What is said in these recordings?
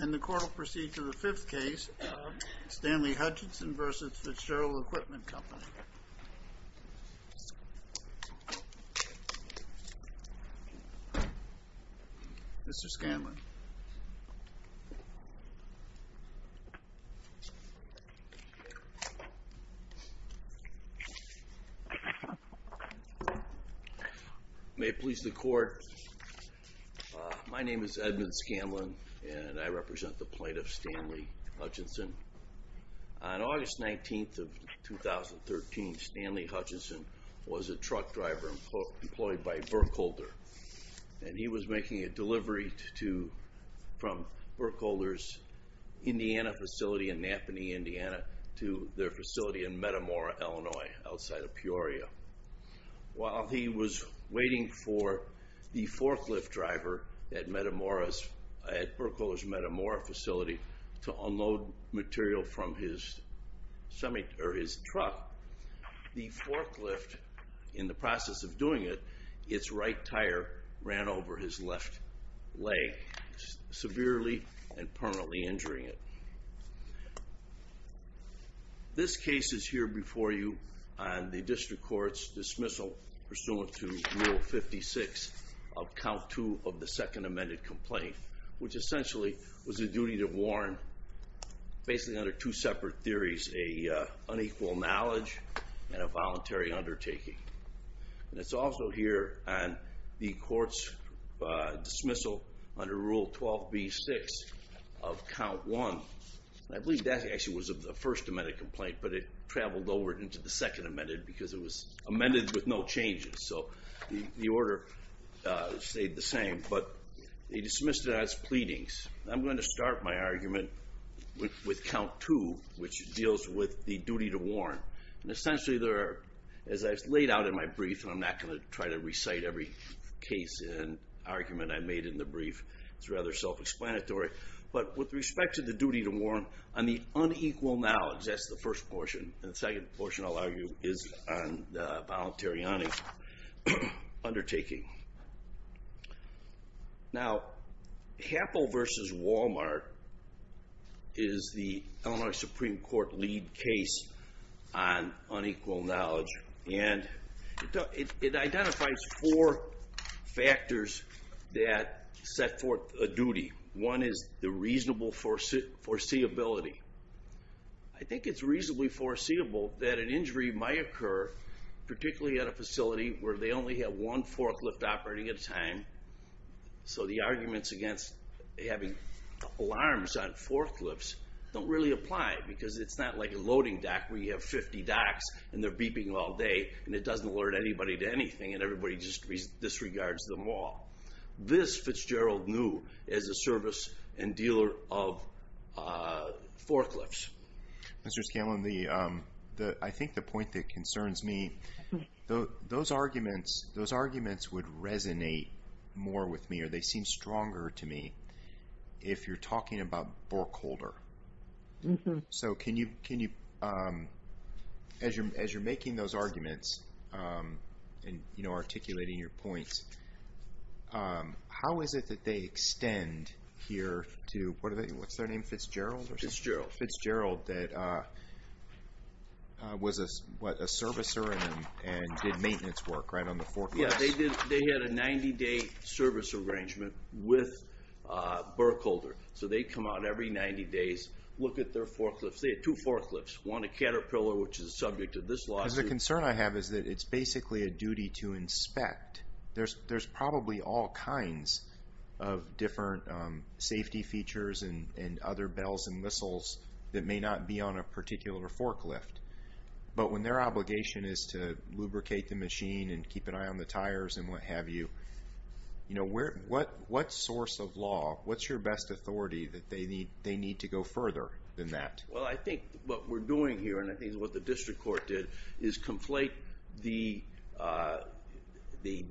And the court will proceed to the fifth case, Stanley Hutchison v. Fitzgerald Equipment Company. Mr. Scanlon. May it please the court, my name is Edmund Scanlon and I represent the plaintiff, Stanley Hutchison. On August 19th of 2013, Stanley Hutchison was a truck driver employed by Berkholder. And he was making a delivery from Berkholder's Indiana facility in Napanee, Indiana to their facility in Metamora, Illinois, outside of Peoria. While he was waiting for the forklift driver at Berkholder's Metamora facility to unload material from his truck, the forklift, in the process of doing it, its right tire ran over his left leg, severely and permanently injuring it. This case is here before you on the district court's dismissal pursuant to Rule 56 of Count 2 of the Second Amended Complaint, which essentially was a duty to warn, basically under two separate theories, an unequal knowledge and a voluntary undertaking. And it's also here on the court's dismissal under Rule 12b-6 of Count 1. I believe that actually was the First Amended Complaint, but it traveled over into the Second Amended because it was amended with no changes. So the order stayed the same, but they dismissed it as pleadings. I'm going to start my argument with Count 2, which deals with the duty to warn. And essentially, as I've laid out in my brief, and I'm not going to try to recite every case and argument I made in the brief, it's rather self-explanatory. But with respect to the duty to warn, on the unequal knowledge, that's the first portion. And the second portion, I'll argue, is on the voluntary undertaking. Now, Happel v. Walmart is the Illinois Supreme Court lead case on unequal knowledge, and it identifies four factors that set forth a duty. One is the reasonable foreseeability. I think it's reasonably foreseeable that an injury might occur, particularly at a facility where they only have one forklift operating at a time. So the arguments against having alarms on forklifts don't really apply because it's not like a loading dock where you have 50 docks and they're beeping all day and it doesn't alert anybody to anything and everybody just disregards them all. This Fitzgerald knew as a service and dealer of forklifts. Mr. Scanlon, I think the point that concerns me, those arguments would resonate more with me, or they seem stronger to me, if you're talking about Borkholder. So can you, as you're making those arguments and articulating your points, how is it that they extend here to, what's their name, Fitzgerald? Fitzgerald, that was a servicer and did maintenance work, right, on the forklifts? Yeah, they had a 90-day service arrangement with Borkholder. So they come out every 90 days, look at their forklifts. They had two forklifts, one a Caterpillar, which is a subject of this lawsuit. The concern I have is that it's basically a duty to inspect. There's probably all kinds of different safety features and other bells and whistles that may not be on a particular forklift. But when their obligation is to lubricate the machine and keep an eye on the tires and what have you, what source of law, what's your best authority that they need to go further than that? Well, I think what we're doing here, and I think it's what the district court did, is conflate the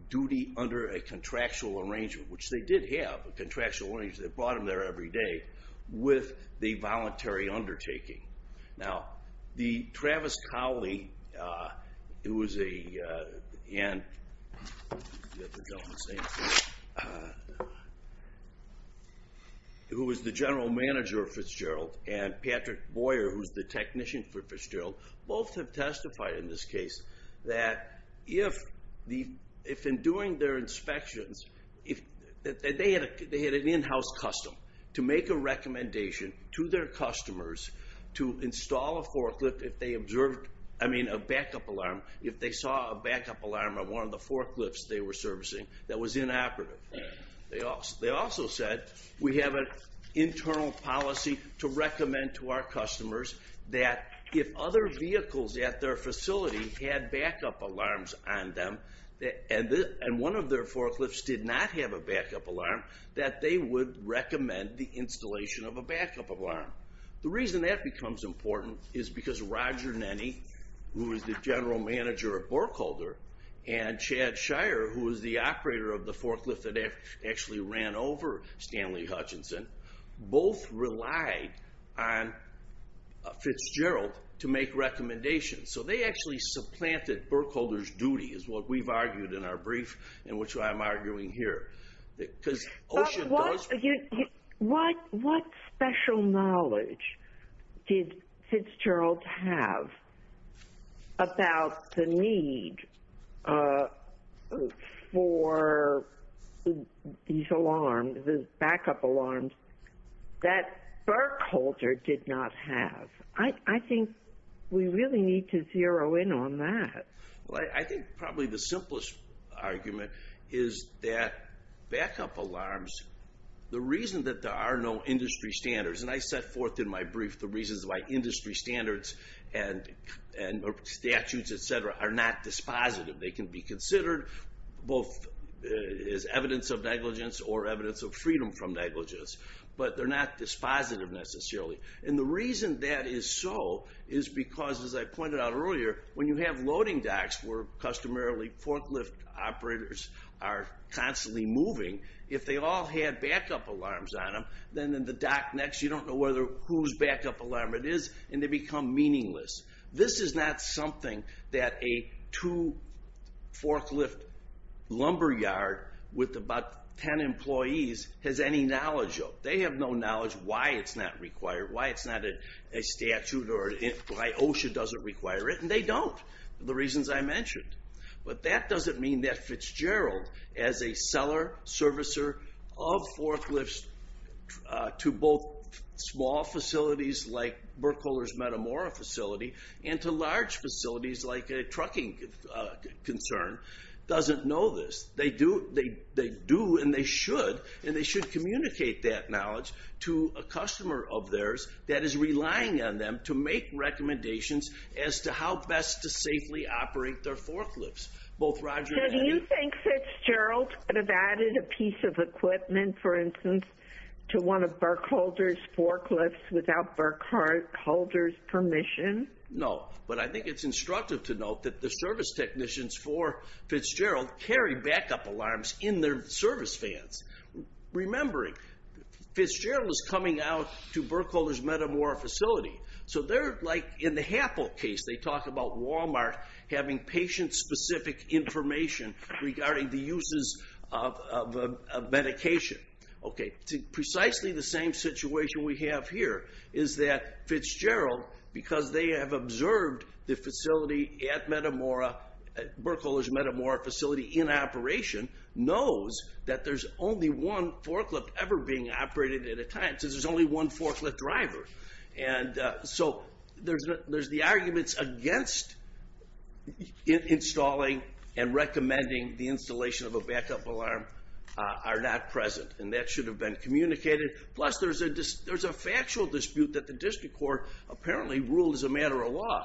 duty under a contractual arrangement, which they did have a contractual arrangement. They brought them there every day with the voluntary undertaking. Now, Travis Cowley, who was the general manager of Fitzgerald, and Patrick Boyer, who's the technician for Fitzgerald, both have testified in this case that if in doing their inspections, they had an in-house custom to make a recommendation to their customers to install a forklift if they observed, I mean, a backup alarm, if they saw a backup alarm on one of the forklifts they were servicing that was inoperative. They also said, we have an internal policy to recommend to our customers that if other vehicles at their facility had backup alarms on them, and one of their forklifts did not have a backup alarm, that they would recommend the installation of a backup alarm. The reason that becomes important is because Roger Nenney, who was the general manager of Burkholder, and Chad Shire, who was the operator of the forklift that actually ran over Stanley Hutchinson, both relied on Fitzgerald to make recommendations. So they actually supplanted Burkholder's duty, is what we've argued in our brief, and which I'm arguing here. But what special knowledge did Fitzgerald have about the need for these alarms, these backup alarms, that Burkholder did not have? I think we really need to zero in on that. Well, I think probably the simplest argument is that backup alarms, the reason that there are no industry standards, and I set forth in my brief the reasons why industry standards and statutes, etc., are not dispositive. They can be considered both as evidence of negligence or evidence of freedom from negligence. But they're not dispositive, necessarily. And the reason that is so is because, as I pointed out earlier, when you have loading docks where customarily forklift operators are constantly moving, if they all had backup alarms on them, then in the dock next, you don't know whose backup alarm it is, and they become meaningless. This is not something that a two forklift lumberyard with about 10 employees has any knowledge of. They have no knowledge why it's not required, why it's not a statute, or why OSHA doesn't require it, and they don't, the reasons I mentioned. But that doesn't mean that Fitzgerald, as a seller, servicer of forklifts to both small facilities like Burkholder's Metamora facility and to large facilities like a trucking concern, doesn't know this. They do, and they should, and they should communicate that knowledge to a customer of theirs that is relying on them to make recommendations as to how best to safely operate their forklifts. Both Roger and... So do you think Fitzgerald could have added a piece of equipment, for instance, to one of Burkholder's forklifts without Burkholder's permission? No, but I think it's instructive to note that the service technicians for Fitzgerald carry backup alarms in their service vans. Remembering, Fitzgerald is coming out to Burkholder's Metamora facility. So they're like, in the Happel case, they talk about Walmart having patient-specific information regarding the uses of medication. Precisely the same situation we have here is that Fitzgerald, because they have observed the facility at Burkholder's Metamora facility in operation, knows that there's only one forklift ever being operated at a time. And so there's the arguments against installing and recommending the installation of a backup alarm are not present, and that should have been communicated. Plus, there's a factual dispute that the district court apparently ruled as a matter of law.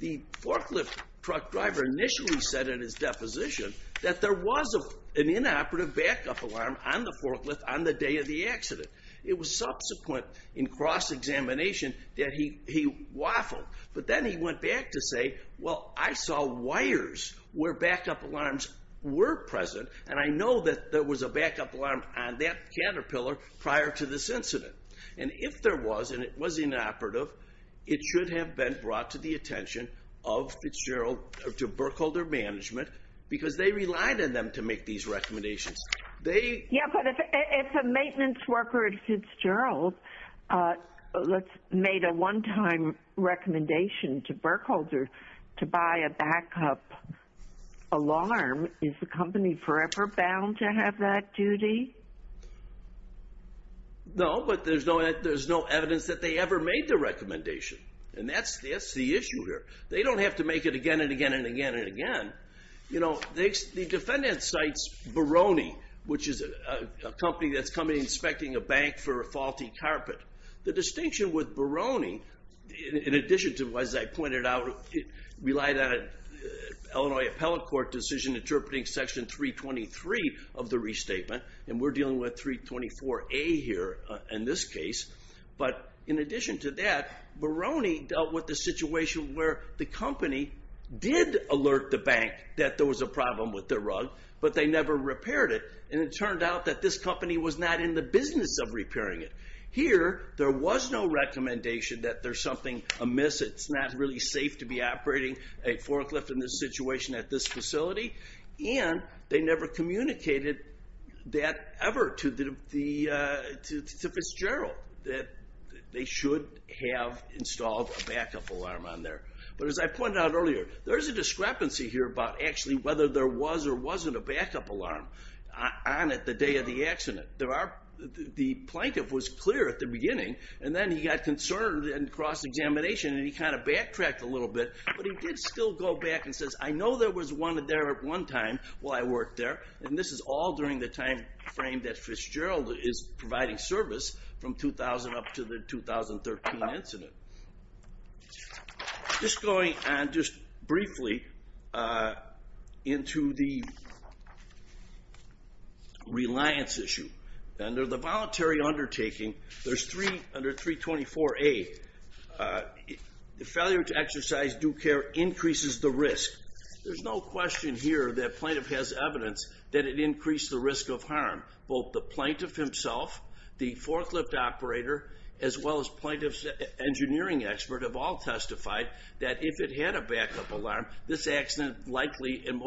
The forklift truck driver initially said in his deposition that there was an inoperative backup alarm on the forklift on the day of the accident. It was subsequent in cross-examination that he waffled. But then he went back to say, well, I saw wires where backup alarms were present, and I know that there was a backup alarm on that caterpillar prior to this incident. And if there was, and it was inoperative, it should have been brought to the attention of Fitzgerald, to Burkholder management, because they relied on them to make these recommendations. Yeah, but if a maintenance worker at Fitzgerald made a one-time recommendation to Burkholder to buy a backup alarm, is the company forever bound to have that duty? No, but there's no evidence that they ever made the recommendation. And that's the issue here. They don't have to make it again and again and again and again. You know, the defendant cites Barone, which is a company that's come in inspecting a bank for a faulty carpet. The distinction with Barone, in addition to, as I pointed out, relied on an Illinois appellate court decision interpreting section 323 of the restatement, and we're dealing with 324A here in this case. But in addition to that, Barone dealt with the situation where the company did alert the bank that there was a problem with their rug, but they never repaired it. And it turned out that this company was not in the business of repairing it. Here, there was no recommendation that there's something amiss, it's not really safe to be operating a forklift in this situation at this facility. And they never communicated that ever to Fitzgerald, that they should have installed a backup alarm on there. But as I pointed out earlier, there's a discrepancy here about actually whether there was or wasn't a backup alarm on it the day of the accident. The plaintiff was clear at the beginning, and then he got concerned in cross-examination, and he kind of backtracked a little bit. But he did still go back and says, I know there was one there at one time while I worked there, and this is all during the time frame that Fitzgerald is providing service from 2000 up to the 2013 incident. Just going on just briefly into the reliance issue. Under the voluntary undertaking, under 324A, the failure to exercise due care increases the risk. There's no question here that plaintiff has evidence that it increased the risk of harm. Both the plaintiff himself, the forklift operator, as well as plaintiff's engineering expert have all testified that if it had a backup alarm, this accident likely, and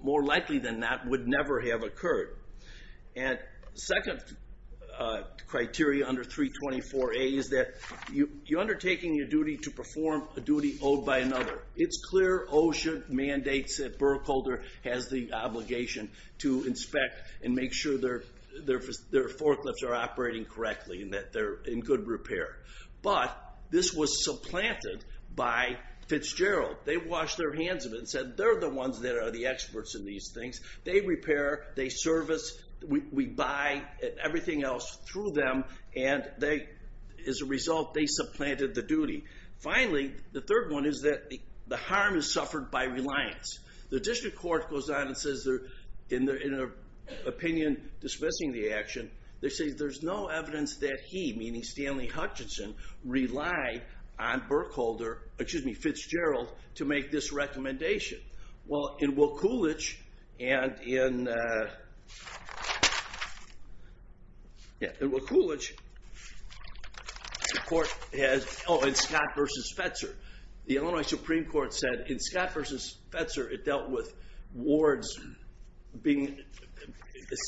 more likely than not, would never have occurred. And second criteria under 324A is that you're undertaking your duty to perform a duty owed by another. It's clear OSHA mandates that Burkholder has the obligation to inspect and make sure their forklifts are operating correctly and that they're in good repair. But this was supplanted by Fitzgerald. They washed their hands of it and said, they're the ones that are the experts in these things. They repair, they service, we buy everything else through them, and as a result, they supplanted the duty. Finally, the third one is that the harm is suffered by reliance. The district court goes on and says, in an opinion dismissing the action, they say there's no evidence that he, meaning Stanley Hutchinson, relied on Fitzgerald to make this recommendation. Well, in Wilkulich, and in Scott v. Spetzer, the Illinois Supreme Court said in Scott v. Spetzer, it dealt with wards. The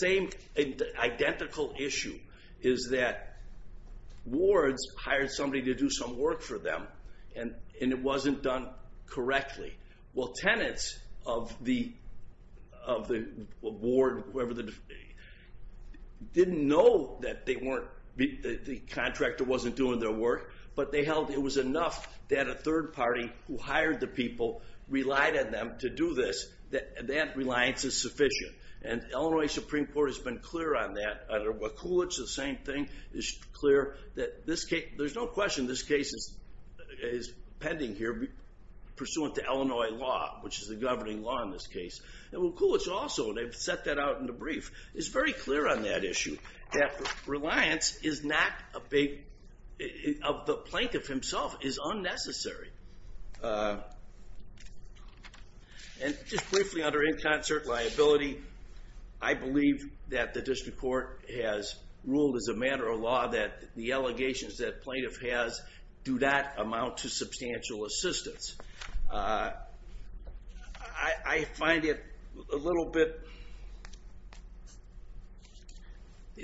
same identical issue is that wards hired somebody to do some work for them, and it wasn't done correctly. Well, tenants of the ward didn't know that the contractor wasn't doing their work, but they held it was enough that a third party who hired the people relied on them to do this, that that reliance is sufficient. And Illinois Supreme Court has been clear on that. Under Wilkulich, the same thing is clear. There's no question this case is pending here pursuant to Illinois law, which is the governing law in this case. And Wilkulich also, they've set that out in the brief, is very clear on that issue, that reliance of the plaintiff himself is unnecessary. And just briefly, under in concert liability, I believe that the district court has ruled as a matter of law that the allegations that plaintiff has do not amount to substantial assistance. I find it a little bit,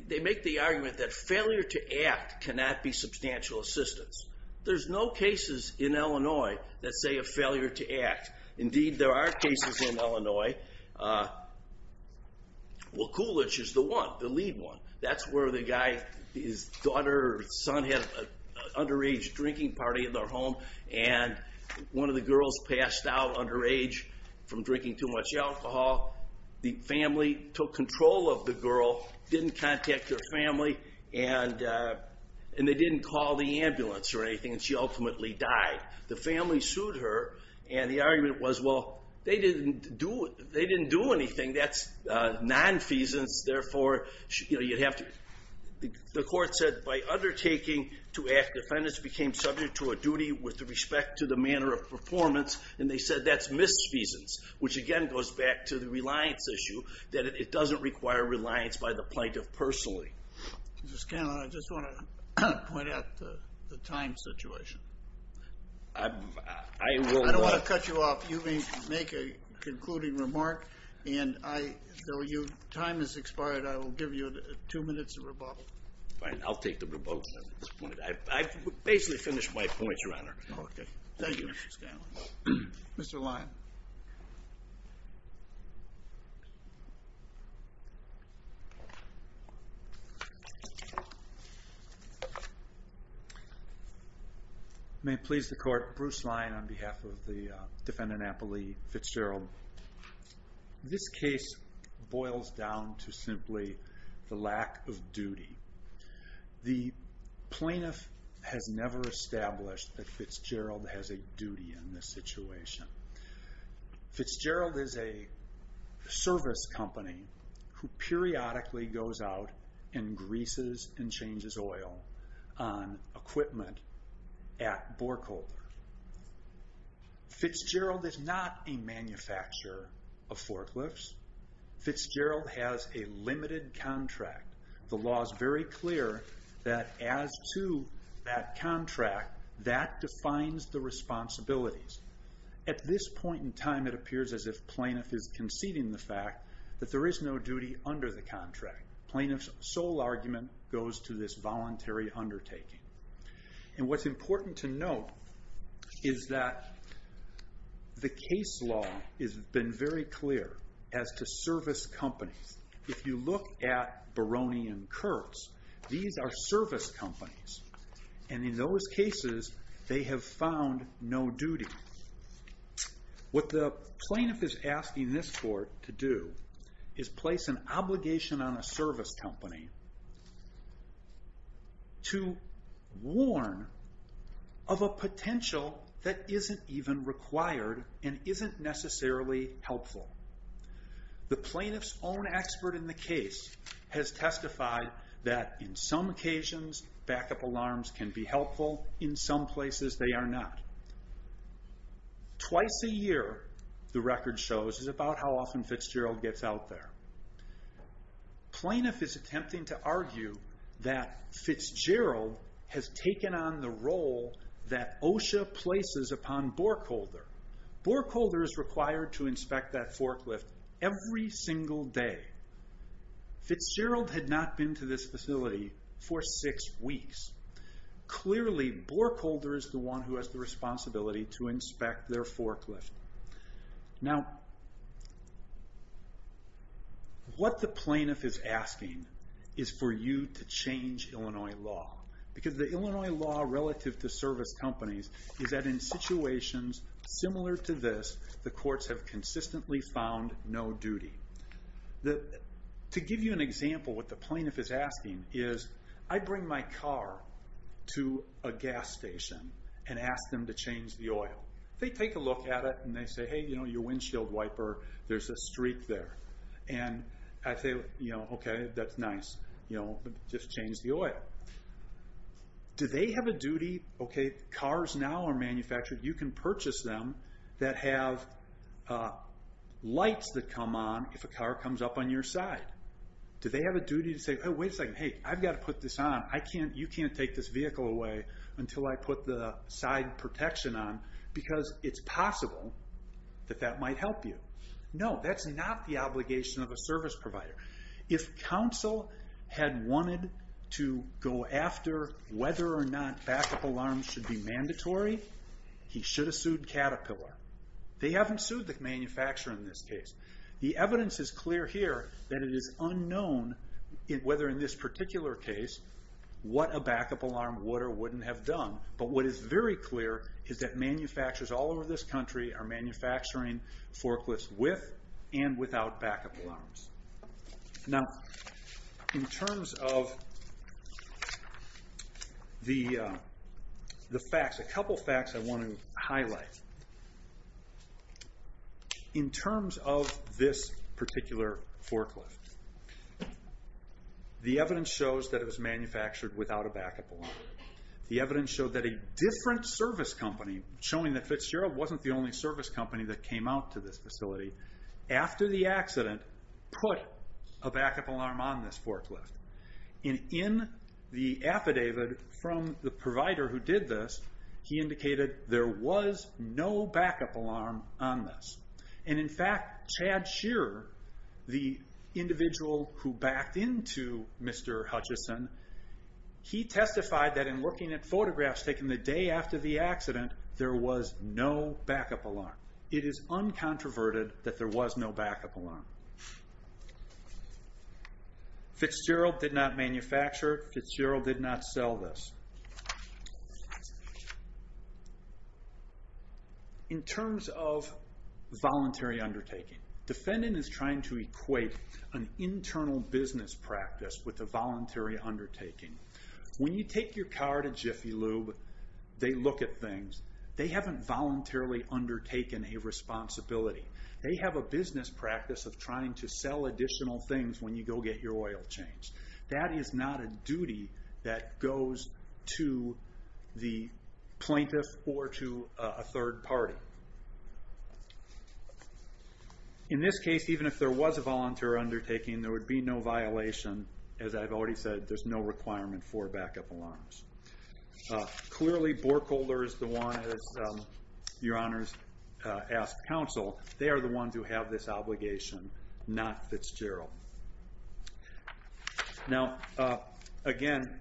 they make the argument that failure to act cannot be substantial assistance. There's no cases in Illinois that say a failure to act. Indeed, there are cases in Illinois. Wilkulich is the one, the lead one. That's where the guy, his daughter or son had an underage drinking party in their home, and one of the girls passed out underage from drinking too much alcohol. The family took control of the girl, didn't contact her family, and they didn't call the ambulance or anything. And she ultimately died. The family sued her, and the argument was, well, they didn't do anything. That's nonfeasance. Therefore, you'd have to, the court said by undertaking to act, defendants became subject to a duty with respect to the manner of performance. And they said that's misfeasance, which again goes back to the reliance issue, that it doesn't require reliance by the plaintiff personally. Mr. Scanlon, I just want to point out the time situation. I don't want to cut you off. You may make a concluding remark. And though your time has expired, I will give you two minutes of rebuttal. Fine, I'll take the rebuttal at this point. I've basically finished my points, Your Honor. Okay, thank you, Mr. Scanlon. Mr. Lyon. May it please the court, Bruce Lyon on behalf of the defendant, Apollee Fitzgerald. This case boils down to simply the lack of duty. The plaintiff has never established that Fitzgerald has a duty in this situation. Fitzgerald is a service company who periodically goes out and greases and changes oil on equipment at Borkholder. Fitzgerald is not a manufacturer of forklifts. Fitzgerald has a limited contract. The law is very clear that as to that contract, that defines the responsibilities. At this point in time, it appears as if plaintiff is conceding the fact that there is no duty under the contract. Plaintiff's sole argument goes to this voluntary undertaking. And what's important to note is that the case law has been very clear as to service companies. If you look at Baroni and Kurtz, these are service companies. And in those cases, they have found no duty. What the plaintiff is asking this court to do is place an obligation on a service company to warn of a potential that isn't even required and isn't necessarily helpful. The plaintiff's own expert in the case has testified that in some occasions, backup alarms can be helpful. In some places, they are not. Twice a year, the record shows, is about how often Fitzgerald gets out there. Plaintiff is attempting to argue that Fitzgerald has taken on the role that OSHA places upon Borkholder. Borkholder is required to inspect that forklift every single day. Fitzgerald had not been to this facility for six weeks. Clearly, Borkholder is the one who has the responsibility to inspect their forklift. Now, what the plaintiff is asking is for you to change Illinois law. Because the Illinois law relative to service companies is that in situations similar to this, the courts have consistently found no duty. To give you an example, what the plaintiff is asking is, I bring my car to a gas station and ask them to change the oil. They take a look at it and they say, hey, you know, you're a windshield wiper. There's a streak there. And I say, you know, okay, that's nice. You know, just change the oil. Do they have a duty, okay, cars now are manufactured, you can purchase them that have lights that come on if a car comes up on your side. Do they have a duty to say, hey, wait a second, hey, I've got to put this on. You can't take this vehicle away until I put the side protection on, because it's possible that that might help you. No, that's not the obligation of a service provider. If counsel had wanted to go after whether or not backup alarms should be mandatory, he should have sued Caterpillar. They haven't sued the manufacturer in this case. The evidence is clear here that it is unknown whether in this particular case what a backup alarm would or wouldn't have done. But what is very clear is that manufacturers all over this country are manufacturing forklifts with and without backup alarms. Now, in terms of the facts, a couple facts I want to highlight. In terms of this particular forklift, the evidence shows that it was manufactured without a backup alarm. The evidence showed that a different service company, showing that Fitzgerald wasn't the only service company that came out to this facility, after the accident, put a backup alarm on this forklift. In the affidavit from the provider who did this, he indicated there was no backup alarm on this. In fact, Chad Shearer, the individual who backed into Mr. Hutchison, he testified that in working at Photographs, taking the day after the accident, there was no backup alarm. It is uncontroverted that there was no backup alarm. Fitzgerald did not manufacture it. Fitzgerald did not sell this. In terms of voluntary undertaking, defendant is trying to equate an internal business practice with a voluntary undertaking. When you take your car to Jiffy Lube, they look at things. They haven't voluntarily undertaken a responsibility. They have a business practice of trying to sell additional things when you go get your oil changed. That is not a duty that goes to the plaintiff or to a third party. In this case, even if there was a volunteer undertaking, there would be no violation. As I've already said, there's no requirement for backup alarms. Clearly, Borkholder is the one, as Your Honors asked counsel, they are the ones who have this obligation, not Fitzgerald. Now, again,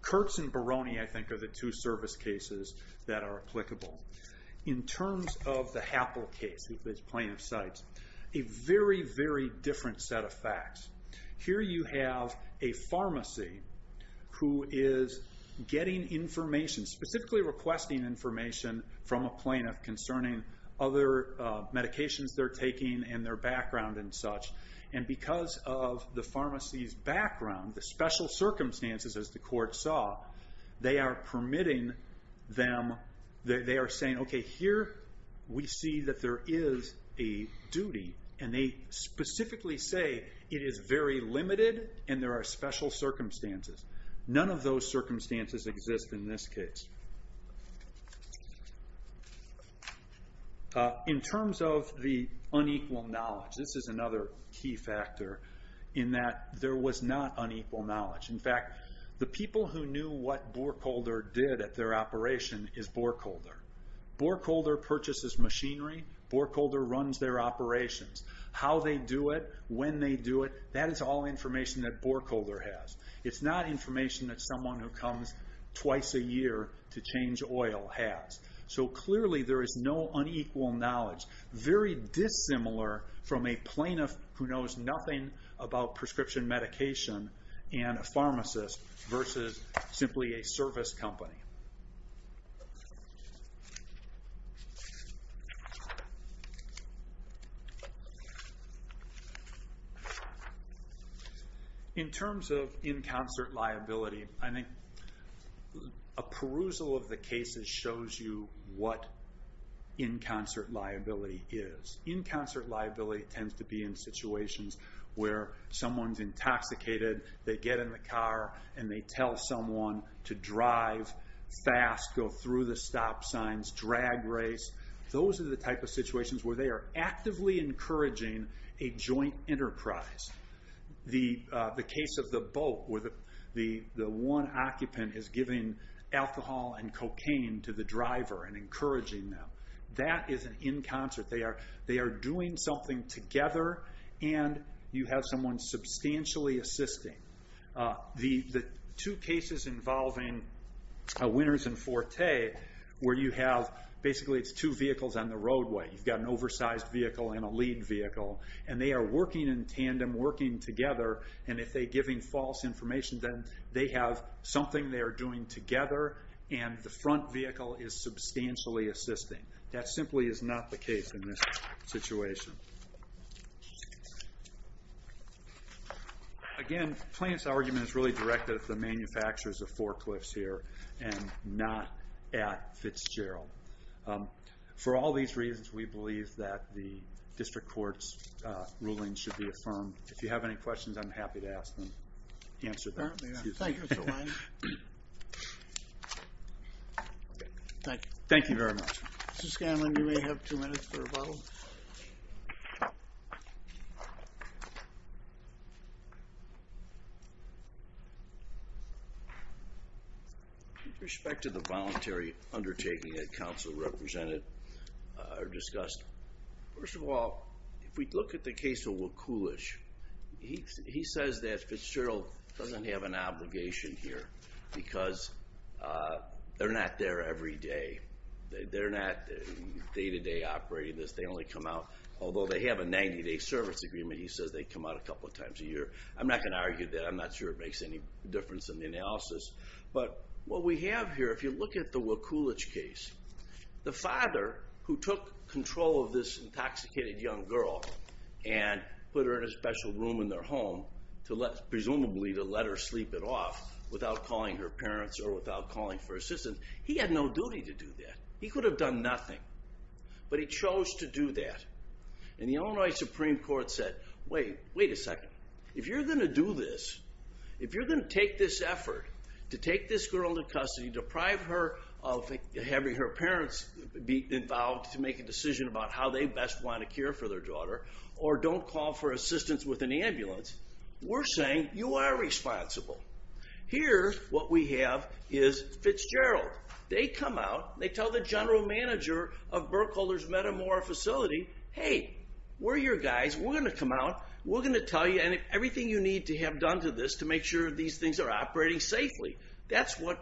Kurtz and Barone, I think, are the two service cases that are applicable. In terms of the Happel case that this plaintiff cites, a very, very different set of facts. Here you have a pharmacy who is getting information, specifically requesting information from a plaintiff concerning other medications they're taking and their background and such. Because of the pharmacy's background, the special circumstances, as the court saw, they are permitting them, they are saying, okay, here we see that there is a duty, and they specifically say it is very limited and there are special circumstances. None of those circumstances exist in this case. In terms of the unequal knowledge, this is another key factor, in that there was not unequal knowledge. In fact, the people who knew what Borkholder did at their operation is Borkholder. Borkholder purchases machinery, Borkholder runs their operations. How they do it, when they do it, that is all information that Borkholder has. It's not information that someone who comes twice a year to change oil has. Clearly, there is no unequal knowledge. Very dissimilar from a plaintiff who knows nothing about prescription medication and a pharmacist versus simply a service company. In terms of in concert liability, I think a perusal of the cases shows you what in concert liability is. In concert liability tends to be in situations where someone is intoxicated, they get in the car, and they tell someone to drive fast, go through the stop signs, drag race. Those are the type of situations where they are actively encouraging a joint enterprise. The case of the boat, where the one occupant is giving alcohol and cocaine to the driver and encouraging them, that is an in concert. They are doing something together, and you have someone substantially assisting. The two cases involving Winters and Forte, where you have basically two vehicles on the roadway. You've got an oversized vehicle and a lead vehicle, and they are working in tandem, working together, and if they're giving false information, then they have something they are doing together, and the front vehicle is substantially assisting. That simply is not the case in this situation. Again, the plaintiff's argument is really directed at the manufacturers of forklifts here, and not at Fitzgerald. For all these reasons, we believe that the district court's ruling should be affirmed. If you have any questions, I'm happy to ask them. Thank you very much. Mr. Scanlon, you may have two minutes for rebuttal. Okay. With respect to the voluntary undertaking that counsel represented or discussed, first of all, if we look at the case of Wakulish, he says that Fitzgerald doesn't have an obligation here, because they're not there every day. They're not day-to-day operating this. They only come out, although they have a 90-day service agreement. He says they come out a couple of times a year. I'm not going to argue that. I'm not sure it makes any difference in the analysis. But what we have here, if you look at the Wakulish case, the father, who took control of this intoxicated young girl and put her in a special room in their home, presumably to let her sleep it off, without calling her parents or without calling for assistance, he had no duty to do that. He could have done nothing. But he chose to do that. And the Illinois Supreme Court said, wait, wait a second. If you're going to do this, if you're going to take this effort to take this girl into custody, deprive her of having her parents be involved to make a decision about how they best want to care for their daughter, or don't call for assistance with an ambulance, we're saying you are responsible. Here, what we have is Fitzgerald. They come out. They tell the general manager of Burkholder's Metamora facility, hey, we're your guys. We're going to come out. We're going to tell you everything you need to have done to this to make sure these things are operating safely. That's what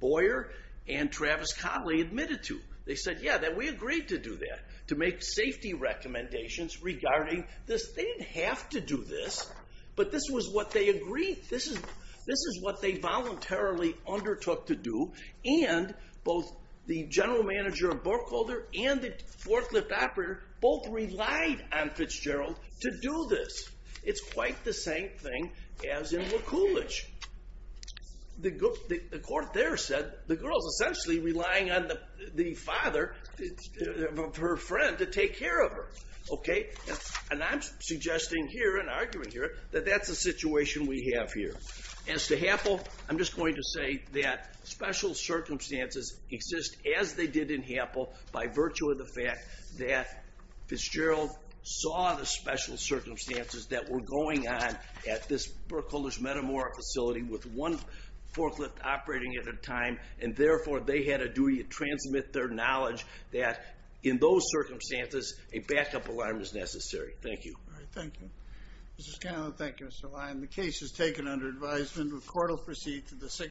Boyer and Travis Conley admitted to. They said, yeah, that we agreed to do that, to make safety recommendations regarding this. They didn't have to do this, but this was what they agreed. This is what they voluntarily undertook to do, and both the general manager of Burkholder and the forklift operator both relied on Fitzgerald to do this. It's quite the same thing as in Likulich. The court there said the girl is essentially relying on the father, her friend, to take care of her. And I'm suggesting here, and arguing here, that that's the situation we have here. As to Happel, I'm just going to say that special circumstances exist, as they did in Happel, by virtue of the fact that Fitzgerald saw the special circumstances that were going on at this Burkholder's Metamora facility with one forklift operating at a time, and therefore they had a duty to transmit their knowledge that in those circumstances a backup alarm is necessary. Thank you. Thank you. Mr. Scanlon. Thank you, Mr. Lyon. The case is taken under advisement. The court will proceed to the signature.